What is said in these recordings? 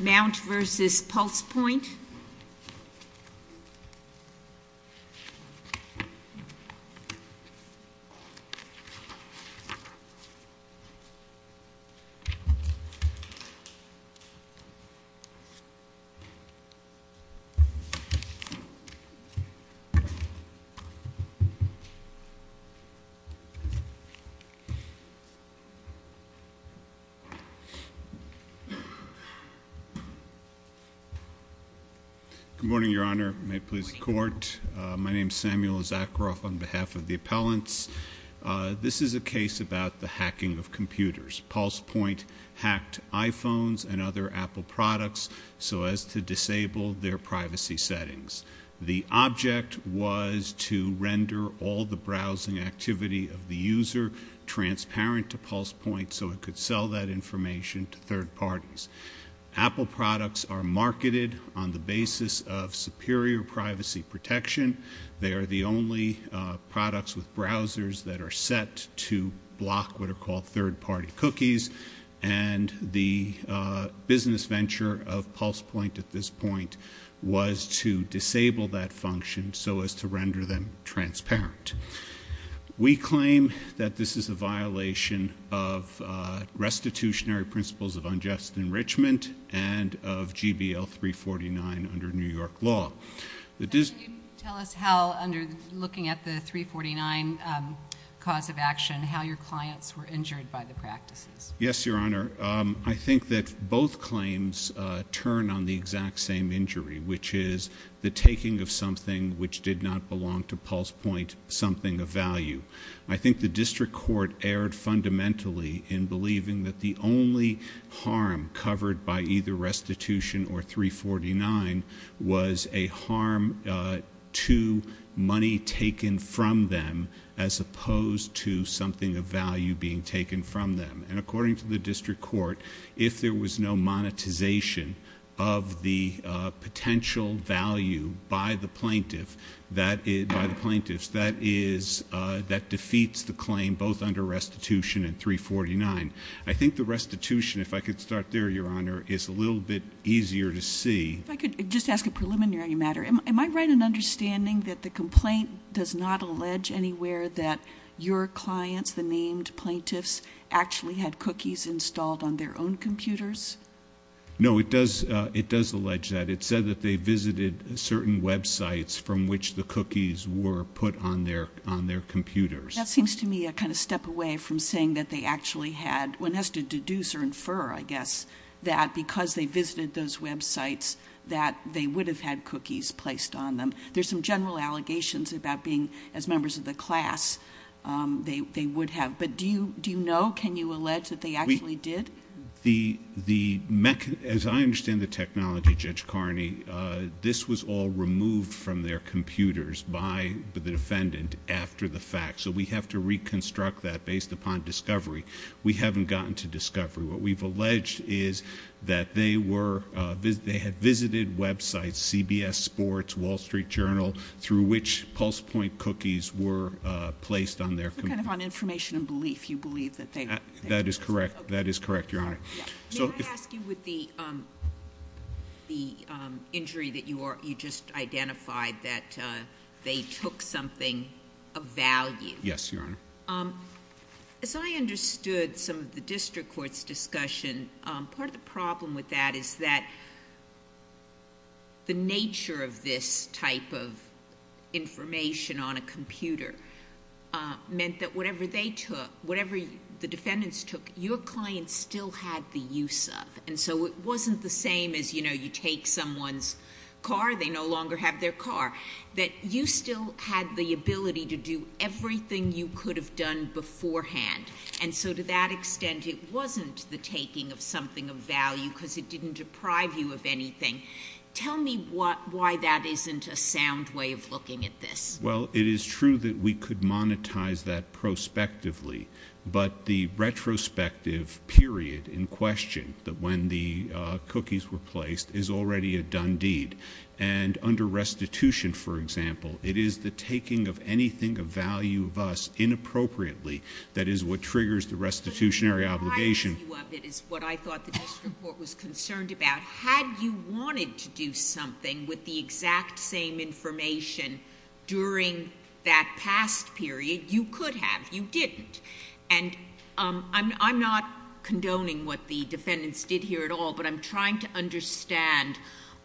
Mount v. PulsePoint Samuel Zakaroff, Appellant Apple products are marketed on the basis of superior privacy protection, they are the only products with browsers that are set to block what are called third-party cookies, and the business venture of PulsePoint at this point was to disable that function so as to render them transparent. We claim that this is a violation of restitutionary principles of unjust enrichment and of GBL 349 under New York law. Can you tell us how, looking at the 349 cause of action, how your clients were injured by the practices? Yes, Your Honor. I think that both claims turn on the exact same injury, which is the taking of something of value. I think the district court erred fundamentally in believing that the only harm covered by either restitution or 349 was a harm to money taken from them as opposed to something of value being taken from them. And according to the district court, if there are plaintiffs, that defeats the claim both under restitution and 349. I think the restitution, if I could start there, Your Honor, is a little bit easier to see. If I could just ask a preliminary matter. Am I right in understanding that the complaint does not allege anywhere that your clients, the named plaintiffs, actually had cookies installed on their own computers? No, it does allege that. It said that they visited certain websites from which the cookies were put on their computers. That seems to me a kind of step away from saying that they actually had, one has to deduce or infer, I guess, that because they visited those websites, that they would have had cookies placed on them. There's some general allegations about being, as members of the class, they would have. But do you know, can you allege that they actually did? As I understand the technology, Judge Carney, this was all removed from their computers by the defendant after the fact. So we have to reconstruct that based upon discovery. We haven't gotten to discovery. What we've alleged is that they had visited websites, CBS Sports, Wall Street Journal, through which PulsePoint cookies were placed on their computers. That is correct. That is correct, Your Honor. May I ask you with the injury that you just identified, that they took something of value? Yes, Your Honor. As I understood some of the district court's discussion, part of the problem with that is that the nature of this type of information on a computer meant that whatever they took, whatever the defendants took, your client still had the use of. And so it wasn't the same as, you know, you take someone's car, they no longer have their car, that you still had the ability to do everything you could have done beforehand. And so to that extent, it wasn't the taking of something of value because it didn't deprive you of anything. Tell me why that isn't a sound way of looking at this. Well, it is true that we could monetize that prospectively, but the retrospective period in question, that when the cookies were placed, is already a done deed. And under restitution, for example, it is the taking of anything of value of us inappropriately that is what triggers the restitutionary obligation. But the value of it is what I thought the district court was concerned about. Had you wanted to do something with the exact same information during that past period, you could have. You didn't. And I'm not condoning what the defendants did here at all, but I'm trying to understand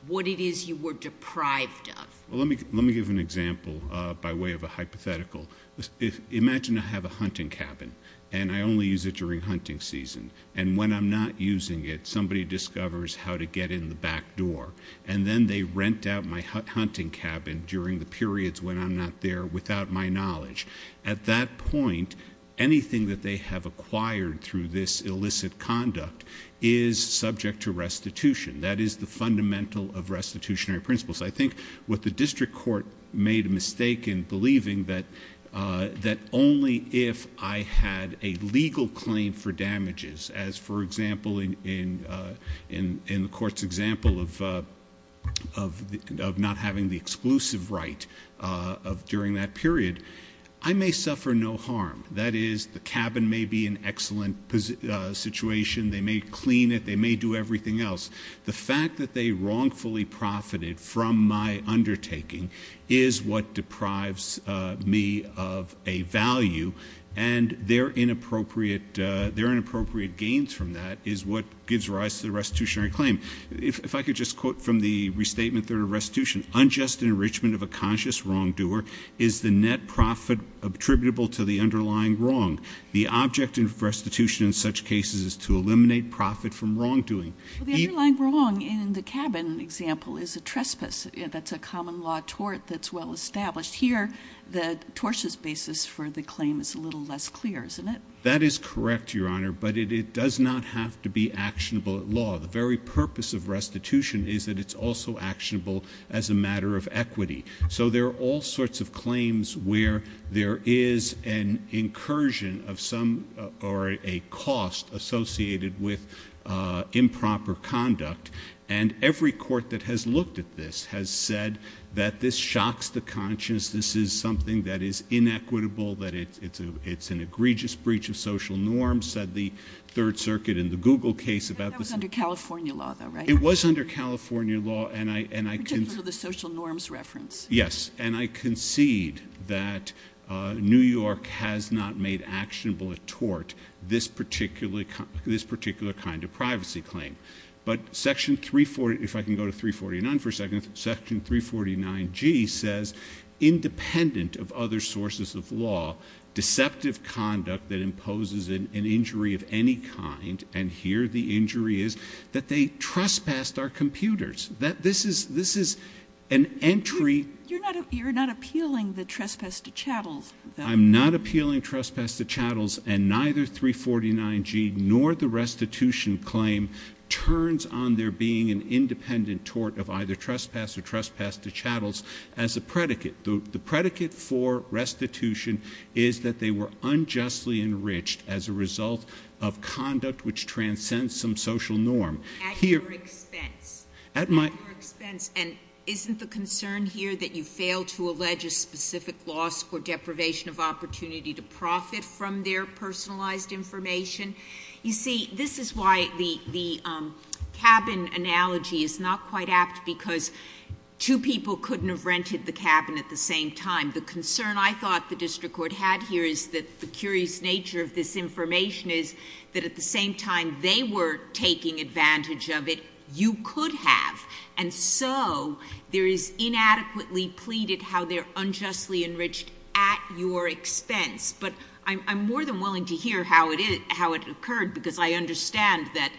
what it is you were deprived of. Well, let me give an example by way of a hypothetical. Imagine I have a hunting cabin, and I only use it during hunting season. And when I'm not using it, somebody discovers how to get in the back door. And then they rent out my hunting cabin during the periods when I'm not there without my knowledge. At that point, anything that they have acquired through this illicit conduct is subject to restitution. That is the fundamental of restitutionary principles. I think what the district court made a mistake in believing that only if I had a legal claim for damages, as for example in the court's example of not having the exclusive right of during that period, I may suffer no harm. That is, the cabin may be in excellent situation. They may clean it. They may do everything else. The fact that they wrongfully profited from my undertaking is what deprives me of a value, and their inappropriate gains from that is what gives rise to the restitutionary claim. If I could just quote from the Restatement of Restitution, unjust enrichment of a conscious wrongdoer is the net profit attributable to the underlying wrong. The object of restitution in such cases is to eliminate profit from wrongdoing. The underlying wrong in the cabin example is a trespass. That's a common law tort that's well established. Here, the tortious basis for the claim is a little less clear, isn't it? That is correct, Your Honor, but it does not have to be actionable at law. The very purpose of restitution is that it's also actionable as a matter of equity. So there are all sorts of claims where there is an incursion of some or a cost associated with improper conduct, and every court that has looked at this has said that this shocks the conscience, this is something that is inequitable, that it's an egregious breach of social norms, said the Third Circuit in the Google case about this. That was under California law, though, right? It was under California law, and I— Particularly the social norms reference. Yes, and I concede that New York has not made actionable a tort this particular kind of privacy claim, but Section 340—if I can go to 349 for a second—Section 349G says independent of other sources of law, deceptive conduct that imposes an injury of any kind, and here the injury is that they trespassed our computers. This is an entry— You're not appealing the trespass to chattels, though. I'm not appealing trespass to chattels, and neither 349G nor the restitution claim turns on there being an independent tort of either trespass or trespass to chattels as a predicate. The predicate for restitution is that they were unjustly enriched as a result of conduct which transcends some social norm. At your expense. At my— At your expense, and isn't the concern here that you fail to allege a specific loss or deprivation of opportunity to profit from their personalized information? You see, this is why the cabin analogy is not quite apt, because two people couldn't have rented the cabin at the same time. The concern I thought the district court had here is that the curious nature of this information is that at the same time they were taking advantage of it, you could have, and so there is inadequately pleaded how they're unjustly enriched at your expense. But I'm more than willing to hear how it occurred, because I understand that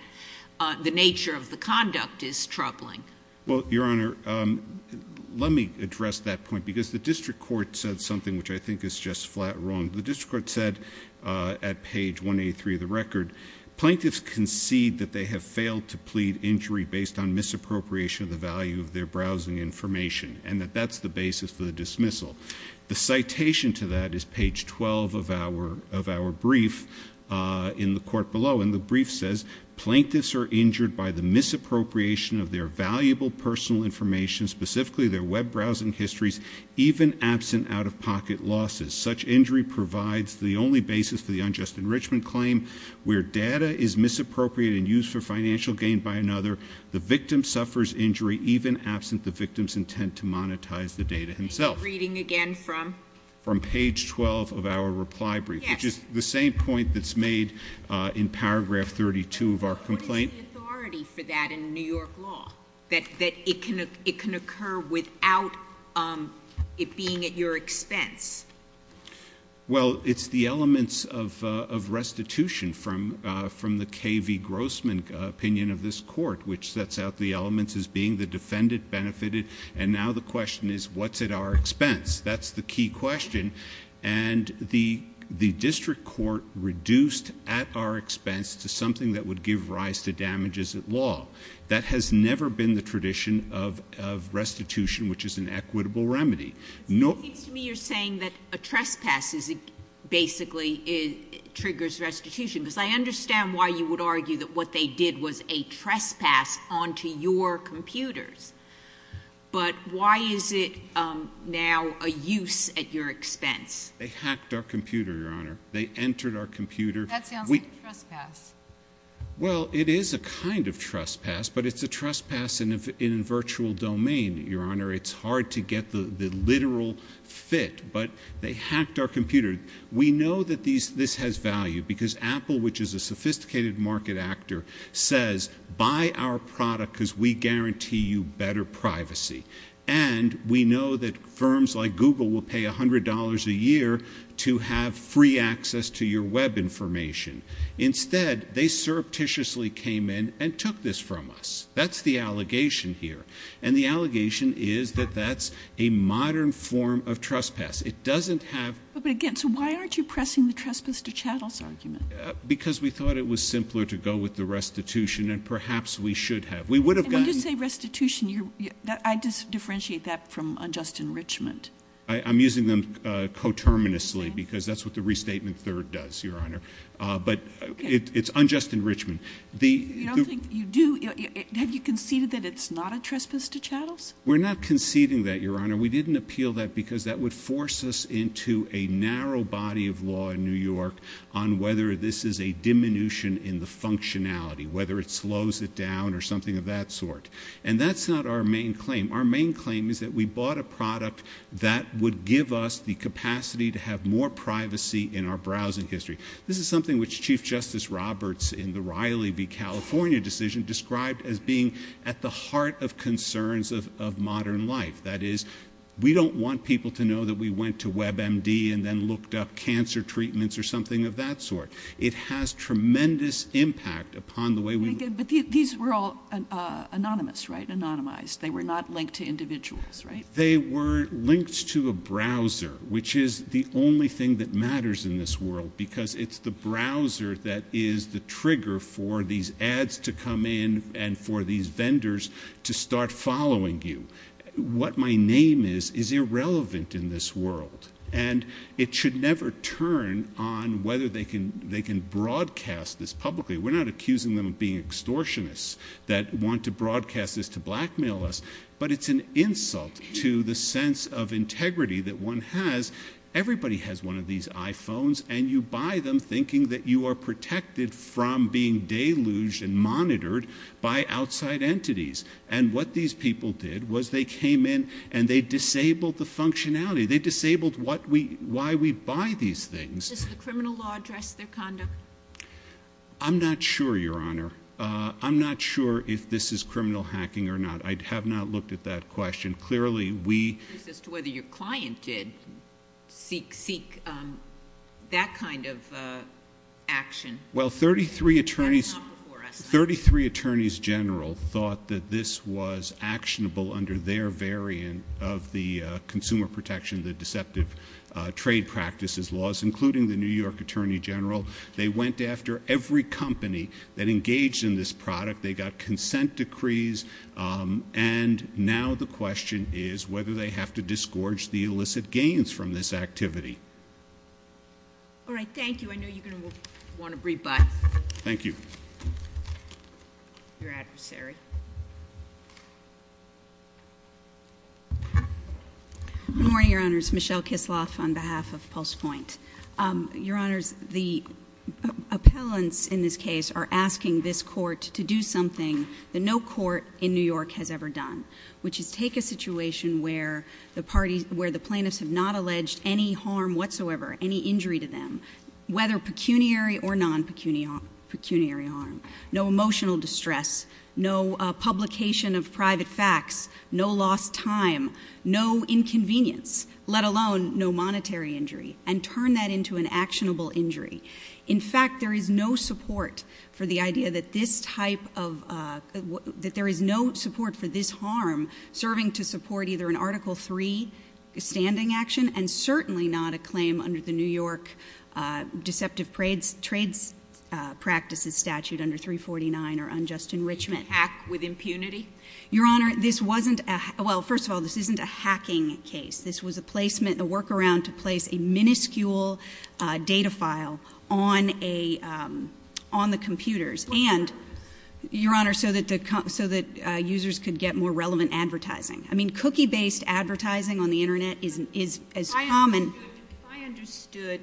the nature of the conduct is troubling. Well, Your Honor, let me address that point, because the district court said something which I think is just flat wrong. The district court said at page 183 of the record, Plaintiffs concede that they have failed to plead injury based on misappropriation of the value of their browsing information, and that that's the basis for the dismissal. The citation to that is page 12 of our brief in the court below, and the brief says, Plaintiffs are injured by the misappropriation of their valuable personal information, specifically their web browsing histories, even absent out-of-pocket losses. Such injury provides the only basis for the unjust enrichment claim. Where data is misappropriated and used for financial gain by another, the victim suffers injury even absent the victim's intent to monetize the data himself. Reading again from? From page 12 of our reply brief, which is the same point that's made in paragraph 32 of our complaint. What is the authority for that in New York law, that it can occur without it being at your expense? Well, it's the elements of restitution from the K.V. Grossman opinion of this court, which sets out the elements as being the defendant benefited. And now the question is, what's at our expense? That's the key question. And the district court reduced at our expense to something that would give rise to damages at law. That has never been the tradition of restitution, which is an equitable remedy. It seems to me you're saying that a trespass basically triggers restitution, because I understand why you would argue that what they did was a trespass onto your computers. But why is it now a use at your expense? They hacked our computer, Your Honor. They entered our computer. That sounds like a trespass. Well, it is a kind of trespass, but it's a trespass in a virtual domain, Your Honor. It's hard to get the literal fit, but they hacked our computer. We know that this has value because Apple, which is a sophisticated market actor, says buy our product because we guarantee you better privacy. And we know that firms like Google will pay $100 a year to have free access to your web information. Instead, they surreptitiously came in and took this from us. That's the allegation here. And the allegation is that that's a modern form of trespass. But, again, so why aren't you pressing the trespass to chattels argument? Because we thought it was simpler to go with the restitution, and perhaps we should have. When you say restitution, I differentiate that from unjust enrichment. I'm using them coterminously because that's what the restatement third does, Your Honor. But it's unjust enrichment. You don't think you do? Have you conceded that it's not a trespass to chattels? We're not conceding that, Your Honor. We didn't appeal that because that would force us into a narrow body of law in New York on whether this is a diminution in the functionality, whether it slows it down or something of that sort. And that's not our main claim. Our main claim is that we bought a product that would give us the capacity to have more privacy in our browsing history. This is something which Chief Justice Roberts, in the Riley v. California decision, described as being at the heart of concerns of modern life. That is, we don't want people to know that we went to WebMD and then looked up cancer treatments or something of that sort. It has tremendous impact upon the way we look. But these were all anonymous, right, anonymized? They were not linked to individuals, right? They were linked to a browser, which is the only thing that matters in this world because it's the browser that is the trigger for these ads to come in and for these vendors to start following you. What my name is is irrelevant in this world, and it should never turn on whether they can broadcast this publicly. We're not accusing them of being extortionists that want to broadcast this to blackmail us, but it's an insult to the sense of integrity that one has. Everybody has one of these iPhones, and you buy them thinking that you are protected from being deluged and monitored by outside entities. And what these people did was they came in and they disabled the functionality. They disabled why we buy these things. Does the criminal law address their conduct? I'm not sure, Your Honor. I'm not sure if this is criminal hacking or not. I have not looked at that question. Clearly, we... As to whether your client did seek that kind of action. Well, 33 attorneys general thought that this was actionable under their variant of the consumer protection, the deceptive trade practices laws, including the New York attorney general. They went after every company that engaged in this product. They got consent decrees. And now the question is whether they have to disgorge the illicit gains from this activity. All right, thank you. I know you're going to want to brief back. Thank you. Your adversary. Good morning, Your Honors. Michelle Kisloff on behalf of PulsePoint. Your Honors, the appellants in this case are asking this court to do something that no court in New York has ever done, which is take a situation where the plaintiffs have not alleged any harm whatsoever, any injury to them, whether pecuniary or non-pecuniary harm, no emotional distress, no publication of private facts, no lost time, no inconvenience, let alone no monetary injury, and turn that into an actionable injury. In fact, there is no support for the idea that this type of... that there is no support for this harm serving to support either an Article III standing action and certainly not a claim under the New York Deceptive Trades Practices Statute under 349 or unjust enrichment. Hack with impunity? Your Honor, this wasn't a... well, first of all, this isn't a hacking case. This was a placement, a workaround to place a minuscule data file on a... on the computers and, Your Honor, so that users could get more relevant advertising. I mean, cookie-based advertising on the Internet is common. If I understood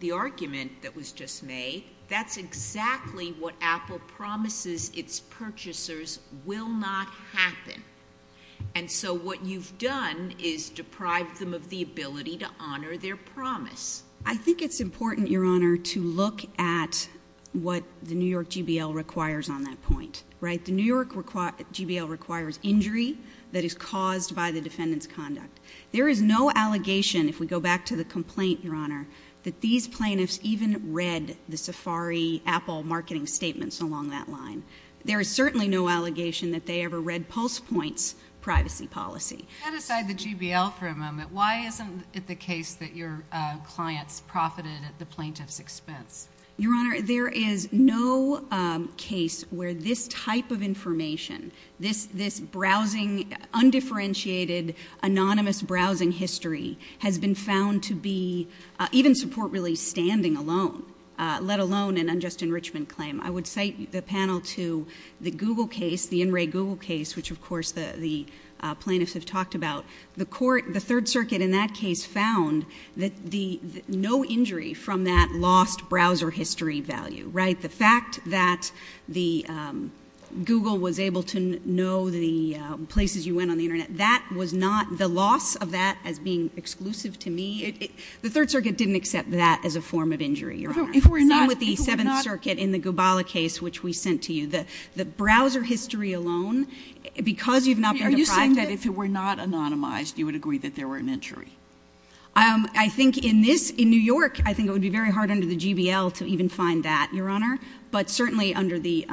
the argument that was just made, that's exactly what Apple promises its purchasers will not happen. And so what you've done is deprived them of the ability to honor their promise. I think it's important, Your Honor, to look at what the New York JBL requires on that point, right? The New York JBL requires injury that is caused by the defendant's conduct. There is no allegation, if we go back to the complaint, Your Honor, that these plaintiffs even read the Safari Apple marketing statements along that line. There is certainly no allegation that they ever read PulsePoint's privacy policy. Set aside the JBL for a moment. Why isn't it the case that your clients profited at the plaintiff's expense? Your Honor, there is no case where this type of information, this browsing, undifferentiated, anonymous browsing history, has been found to be, even support really, standing alone, let alone an unjust enrichment claim. I would cite the panel to the Google case, the In Re Google case, which, of course, the plaintiffs have talked about. The Third Circuit in that case found no injury from that lost browser history value, right? The fact that Google was able to know the places you went on the Internet, that was not the loss of that as being exclusive to me. The Third Circuit didn't accept that as a form of injury, Your Honor. Not with the Seventh Circuit in the Gubala case, which we sent to you. The browser history alone, because you've not been deprived of it. If it were not anonymized, you would agree that there were an injury? I think in this, in New York, I think it would be very hard under the JBL to even find that, Your Honor. But certainly under the...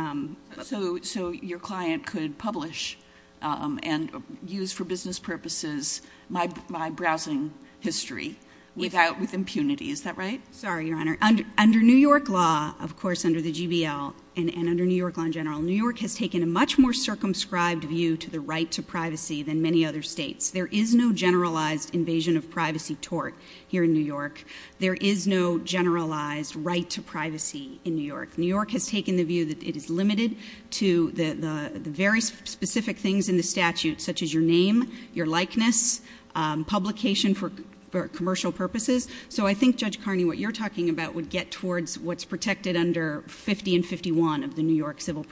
So your client could publish and use for business purposes my browsing history with impunity, is that right? Sorry, Your Honor. Under New York law, of course, under the JBL, and under New York law in general, New York has taken a much more circumscribed view to the right to privacy than many other states. There is no generalized invasion of privacy tort here in New York. There is no generalized right to privacy in New York. New York has taken the view that it is limited to the very specific things in the statute, such as your name, your likeness, publication for commercial purposes. So I think, Judge Carney, what you're talking about would get towards what's protected under 50 and 51 of the New York civil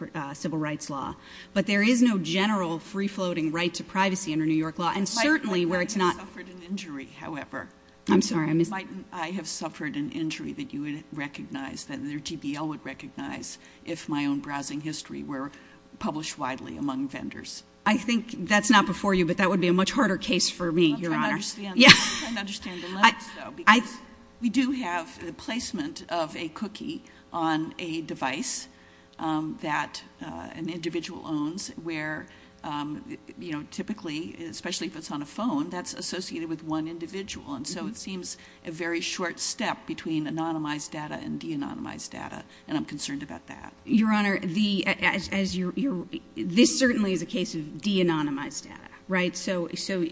rights law. But there is no general free-floating right to privacy under New York law. And certainly where it's not... My client might have suffered an injury, however. I'm sorry, I missed... My client might have suffered an injury that you would recognize, that their JBL would recognize, if my own browsing history were published widely among vendors. I think that's not before you, but that would be a much harder case for me, Your Honor. I'm trying to understand the limits, though, because we do have the placement of a cookie on a device that an individual owns, where typically, especially if it's on a phone, that's associated with one individual. And so it seems a very short step between anonymized data and de-anonymized data, and I'm concerned about that. Your Honor, this certainly is a case of de-anonymized data, right? So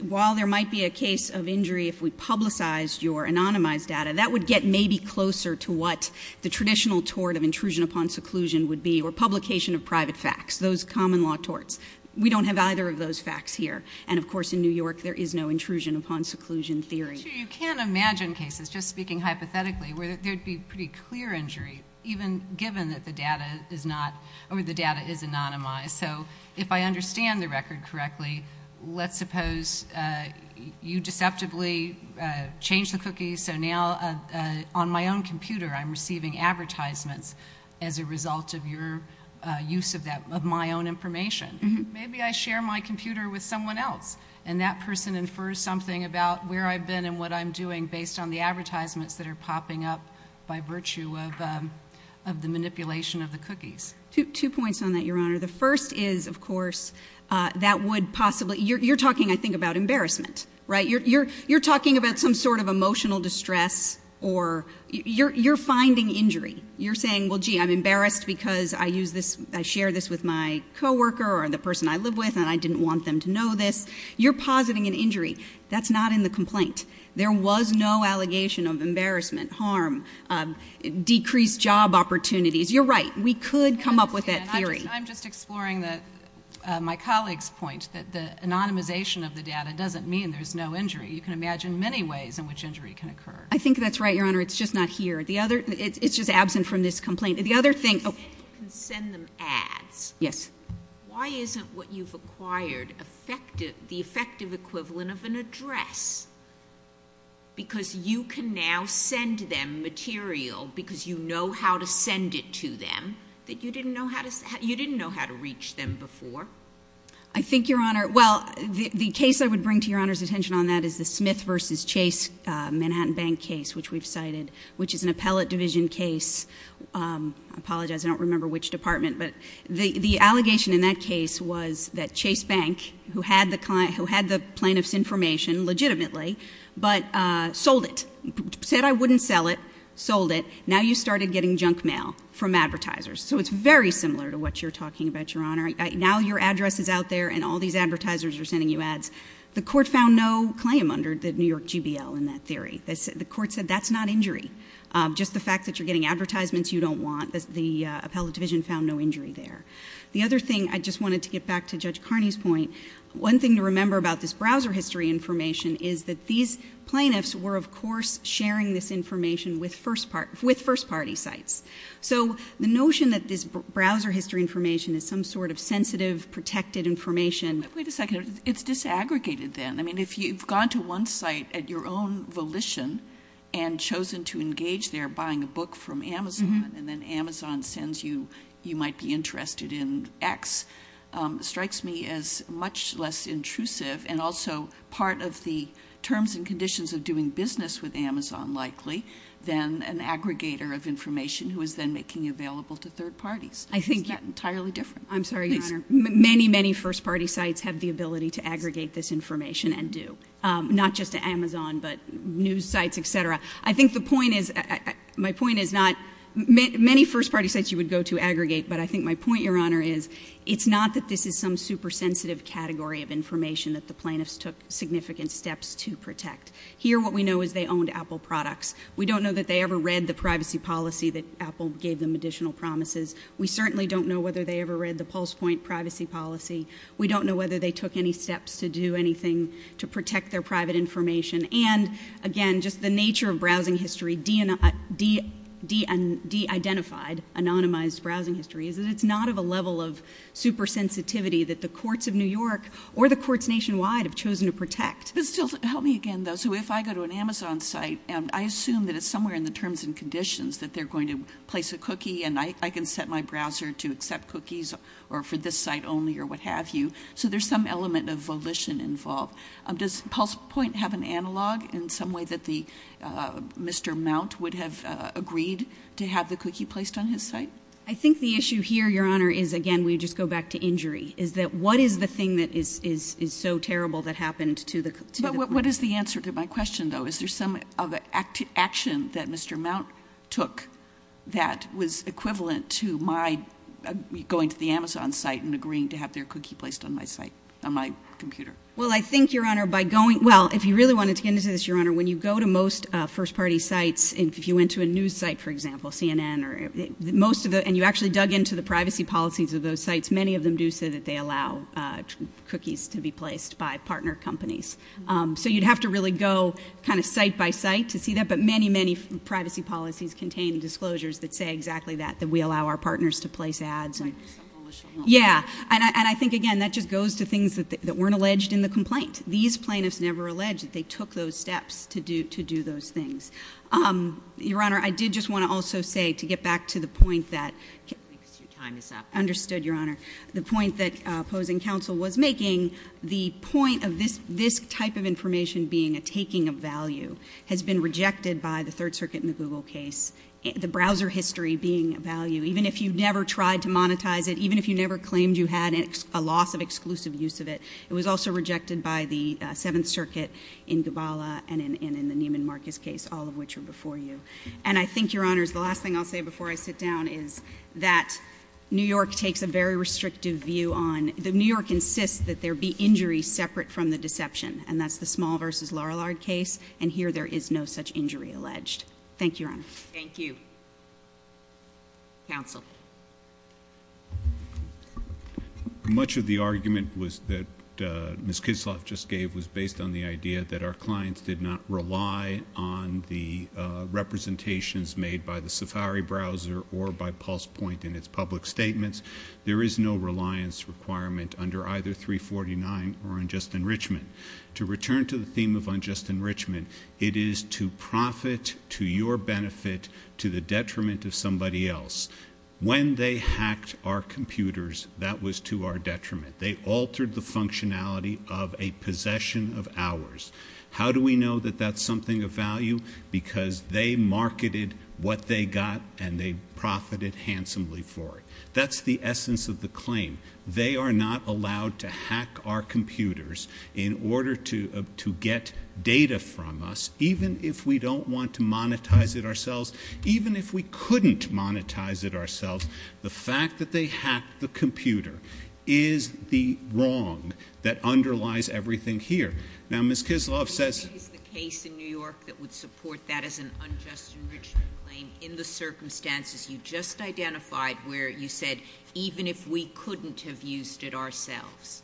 while there might be a case of injury if we publicized your anonymized data, that would get maybe closer to what the traditional tort of intrusion upon seclusion would be, or publication of private facts, those common law torts. We don't have either of those facts here. And, of course, in New York, there is no intrusion upon seclusion theory. So you can imagine cases, just speaking hypothetically, where there'd be pretty clear injury, even given that the data is not... or the data is anonymized. So if I understand the record correctly, let's suppose you deceptively changed the cookies, so now on my own computer I'm receiving advertisements as a result of your use of my own information. Maybe I share my computer with someone else, and that person infers something about where I've been and what I'm doing based on the advertisements that are popping up by virtue of the manipulation of the cookies. Two points on that, Your Honor. The first is, of course, that would possibly... you're talking, I think, about embarrassment, right? You're talking about some sort of emotional distress, or you're finding injury. You're saying, well, gee, I'm embarrassed because I share this with my co-worker or the person I live with and I didn't want them to know this. You're positing an injury. That's not in the complaint. There was no allegation of embarrassment, harm, decreased job opportunities. You're right. We could come up with that theory. I'm just exploring my colleague's point that the anonymization of the data doesn't mean there's no injury. You can imagine many ways in which injury can occur. I think that's right, Your Honor. It's just not here. It's just absent from this complaint. The other thing... You said you can send them ads. Yes. Why isn't what you've acquired the effective equivalent of an address? Because you can now send them material because you know how to send it to them that you didn't know how to reach them before. I think, Your Honor... Well, the case I would bring to Your Honor's attention on that is the Smith v. Chase Manhattan Bank case, which we've cited, which is an appellate division case. I apologize. I don't remember which department. But the allegation in that case was that Chase Bank, who had the plaintiff's information legitimately, but sold it, said, I wouldn't sell it, sold it. Now you started getting junk mail from advertisers. So it's very similar to what you're talking about, Your Honor. Now your address is out there and all these advertisers are sending you ads. The court found no claim under the New York GBL in that theory. The court said that's not injury, just the fact that you're getting advertisements you don't want. The appellate division found no injury there. The other thing, I just wanted to get back to Judge Carney's point. One thing to remember about this browser history information is that these plaintiffs were, of course, sharing this information with first party sites. So the notion that this browser history information is some sort of sensitive, protected information... Wait a second. It's disaggregated then. I mean, if you've gone to one site at your own volition and chosen to engage there buying a book from Amazon and then Amazon sends you, you might be interested in X, strikes me as much less intrusive and also part of the terms and conditions of doing business with Amazon, likely, than an aggregator of information who is then making available to third parties. I think... Is that entirely different? I'm sorry, Your Honor. Many, many first party sites have the ability to aggregate this information and do. Not just to Amazon, but news sites, et cetera. I think the point is... My point is not... Many first party sites you would go to aggregate. But I think my point, Your Honor, is it's not that this is some super sensitive category of information that the plaintiffs took significant steps to protect. Here what we know is they owned Apple products. We don't know that they ever read the privacy policy that Apple gave them additional promises. We certainly don't know whether they ever read the PulsePoint privacy policy. We don't know whether they took any steps to do anything to protect their private information. And, again, just the nature of browsing history, de-identified, anonymized browsing history, is that it's not of a level of super sensitivity that the courts of New York or the courts nationwide have chosen to protect. Help me again, though. So if I go to an Amazon site, I assume that it's somewhere in the terms and conditions that they're going to place a cookie and I can set my browser to accept cookies or for this site only or what have you. So there's some element of volition involved. Does PulsePoint have an analog in some way that Mr. Mount would have agreed to have the cookie placed on his site? I think the issue here, Your Honor, is, again, we just go back to injury, is that what is the thing that is so terrible that happened to the cookie? But what is the answer to my question, though? Is there some action that Mr. Mount took that was equivalent to my going to the Amazon site and agreeing to have their cookie placed on my site, on my computer? Well, I think, Your Honor, by going ñ well, if you really wanted to get into this, Your Honor, when you go to most first-party sites, if you went to a news site, for example, CNN, and you actually dug into the privacy policies of those sites, many of them do say that they allow cookies to be placed by partner companies. So you'd have to really go kind of site by site to see that. But many, many privacy policies contain disclosures that say exactly that, that we allow our partners to place ads. Yeah. And I think, again, that just goes to things that weren't alleged in the complaint. These plaintiffs never alleged that they took those steps to do those things. Your Honor, I did just want to also say, to get back to the point tható Your time is up. I understood, Your Honor. The point that opposing counsel was making, the point of this type of information being a taking of value has been rejected by the Third Circuit in the Google case, the browser history being a value. Even if you never tried to monetize it, even if you never claimed you had a loss of exclusive use of it, it was also rejected by the Seventh Circuit in Gabala and in the Neiman Marcus case, all of which are before you. And I think, Your Honor, the last thing I'll say before I sit down is that New York takes a very restrictive view onó New York insists that there be injuries separate from the deception, and that's the Small v. Larrillard case, and here there is no such injury alleged. Thank you, Your Honor. Thank you. Counsel. Much of the argument that Ms. Kisloff just gave was based on the idea that our clients did not rely on the representations made by the Safari browser or by PulsePoint in its public statements. There is no reliance requirement under either 349 or Unjust Enrichment. To return to the theme of Unjust Enrichment, it is to profit to your benefit to the detriment of somebody else. When they hacked our computers, that was to our detriment. They altered the functionality of a possession of ours. How do we know that that's something of value? Because they marketed what they got, and they profited handsomely for it. That's the essence of the claim. They are not allowed to hack our computers in order to get data from us, even if we don't want to monetize it ourselves, even if we couldn't monetize it ourselves. The fact that they hacked the computer is the wrong that underlies everything here. Now, Ms. Kisloff saysó It is the case in New York that would support that as an Unjust Enrichment claim in the circumstances you just identified, where you said, even if we couldn't have used it ourselves.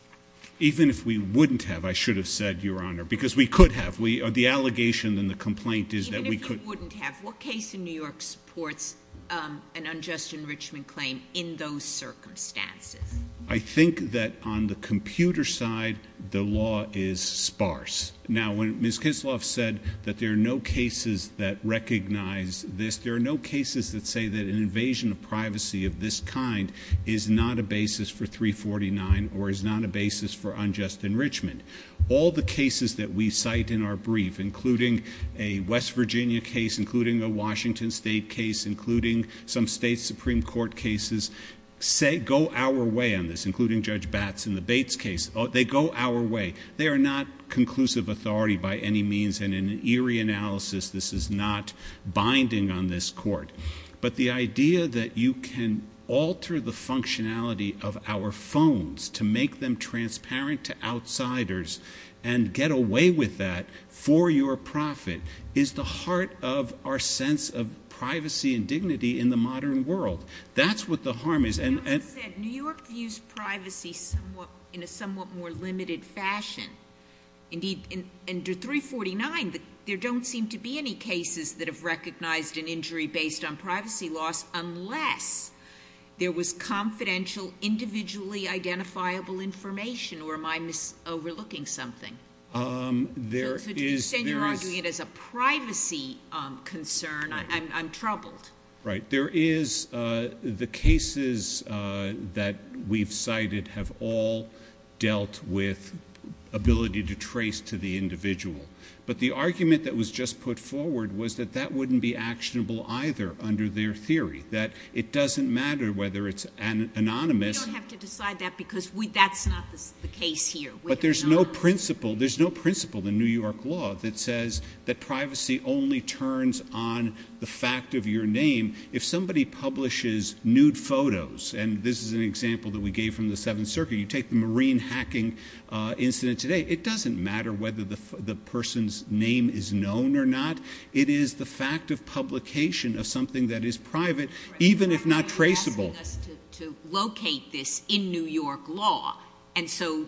Even if we wouldn't have, I should have said, Your Honor, because we could have. The allegation and the complaint is that we couldó Even if you wouldn't have. What case in New York supports an Unjust Enrichment claim in those circumstances? I think that on the computer side, the law is sparse. Now, when Ms. Kisloff said that there are no cases that recognize this, there are no cases that say that an invasion of privacy of this kind is not a basis for 349 or is not a basis for Unjust Enrichment. All the cases that we cite in our brief, including a West Virginia case, including a Washington State case, including some state Supreme Court cases, go our way on this, including Judge Batts in the Bates case. They go our way. They are not conclusive authority by any means, and in an eerie analysis, this is not binding on this court. But the idea that you can alter the functionality of our phones to make them transparent to outsiders and get away with that for your profit is the heart of our sense of privacy and dignity in the modern world. That's what the harm is. As you said, New York views privacy in a somewhat more limited fashion. Indeed, under 349, there don't seem to be any cases that have recognized an injury based on privacy loss unless there was confidential, individually identifiable information, or am I overlooking something? So to extend your argument as a privacy concern, I'm troubled. Right. The cases that we've cited have all dealt with ability to trace to the individual. But the argument that was just put forward was that that wouldn't be actionable either under their theory, that it doesn't matter whether it's anonymous. We don't have to decide that because that's not the case here. But there's no principle in New York law that says that privacy only turns on the fact of your name. If somebody publishes nude photos, and this is an example that we gave from the Seventh Circuit, you take the marine hacking incident today, it doesn't matter whether the person's name is known or not. It is the fact of publication of something that is private, even if not traceable. You're asking us to locate this in New York law, and so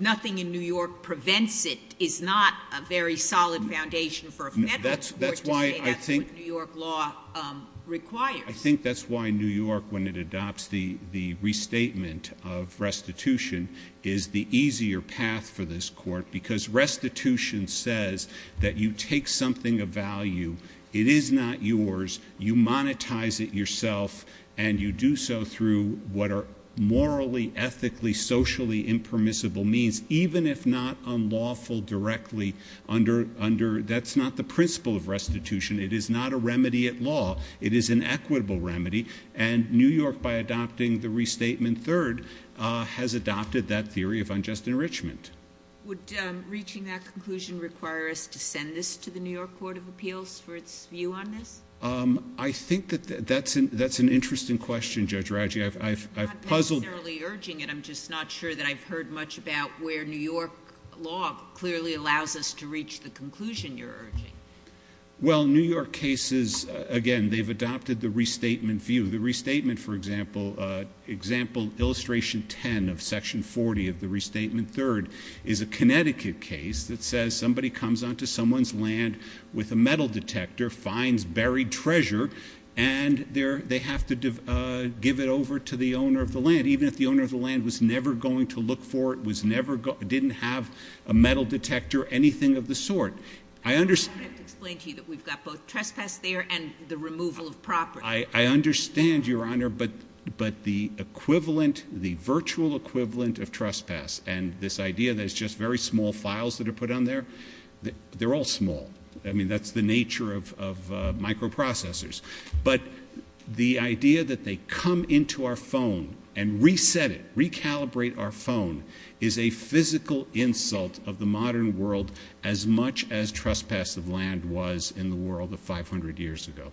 nothing in New York prevents it is not a very solid foundation for a federal court to say that's what New York law requires. I think that's why New York, when it adopts the restatement of restitution, is the easier path for this court because restitution says that you take something of value, it is not yours, you monetize it yourself, and you do so through what are morally, ethically, socially impermissible means, even if not unlawful directly under... That's not the principle of restitution. It is not a remedy at law. It is an equitable remedy, and New York, by adopting the restatement third, has adopted that theory of unjust enrichment. Would reaching that conclusion require us to send this to the New York Court of Appeals for its view on this? I think that's an interesting question, Judge Radji. I've puzzled... I'm not necessarily urging it. I'm just not sure that I've heard much about where New York law clearly allows us to reach the conclusion you're urging. Well, New York cases, again, they've adopted the restatement view. The restatement, for example, example illustration 10 of section 40 of the restatement third is a Connecticut case that says somebody comes onto someone's land with a metal detector, finds buried treasure, and they have to give it over to the owner of the land, even if the owner of the land was never going to look for it, didn't have a metal detector, anything of the sort. I understand... I don't have to explain to you that we've got both trespass there and the removal of property. I understand, Your Honor, but the equivalent, the virtual equivalent of trespass and this idea that it's just very small files that are put on there, they're all small. I mean, that's the nature of microprocessors. But the idea that they come into our phone and reset it, recalibrate our phone, is a physical insult of the modern world as much as trespass of land was in the world of 500 years ago.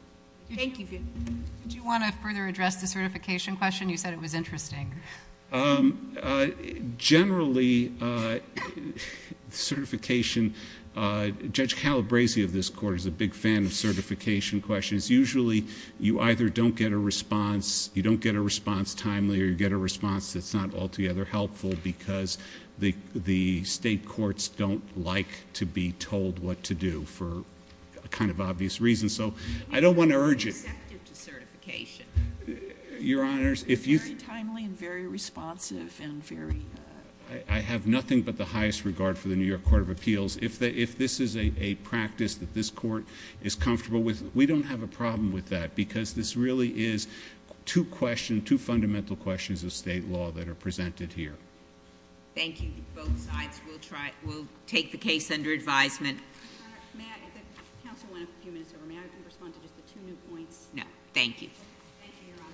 Thank you. Do you want to further address the certification question? You said it was interesting. Generally, certification, Judge Calabresi of this court is a big fan of certification questions. Usually, you either don't get a response, you don't get a response timely, or you get a response that's not altogether helpful because the state courts don't like to be told what to do for a kind of obvious reason. So I don't want to urge it. It's not receptive to certification. Your Honors, if you think... Very timely and very responsive and very... I have nothing but the highest regard for the New York Court of Appeals. If this is a practice that this court is comfortable with, we don't have a problem with that because this really is two fundamental questions of state law that are presented here. Thank you. Both sides will take the case under advisement. Counsel went a few minutes over. May I respond to just the two new points? No. Thank you. Thank you, Your Honor.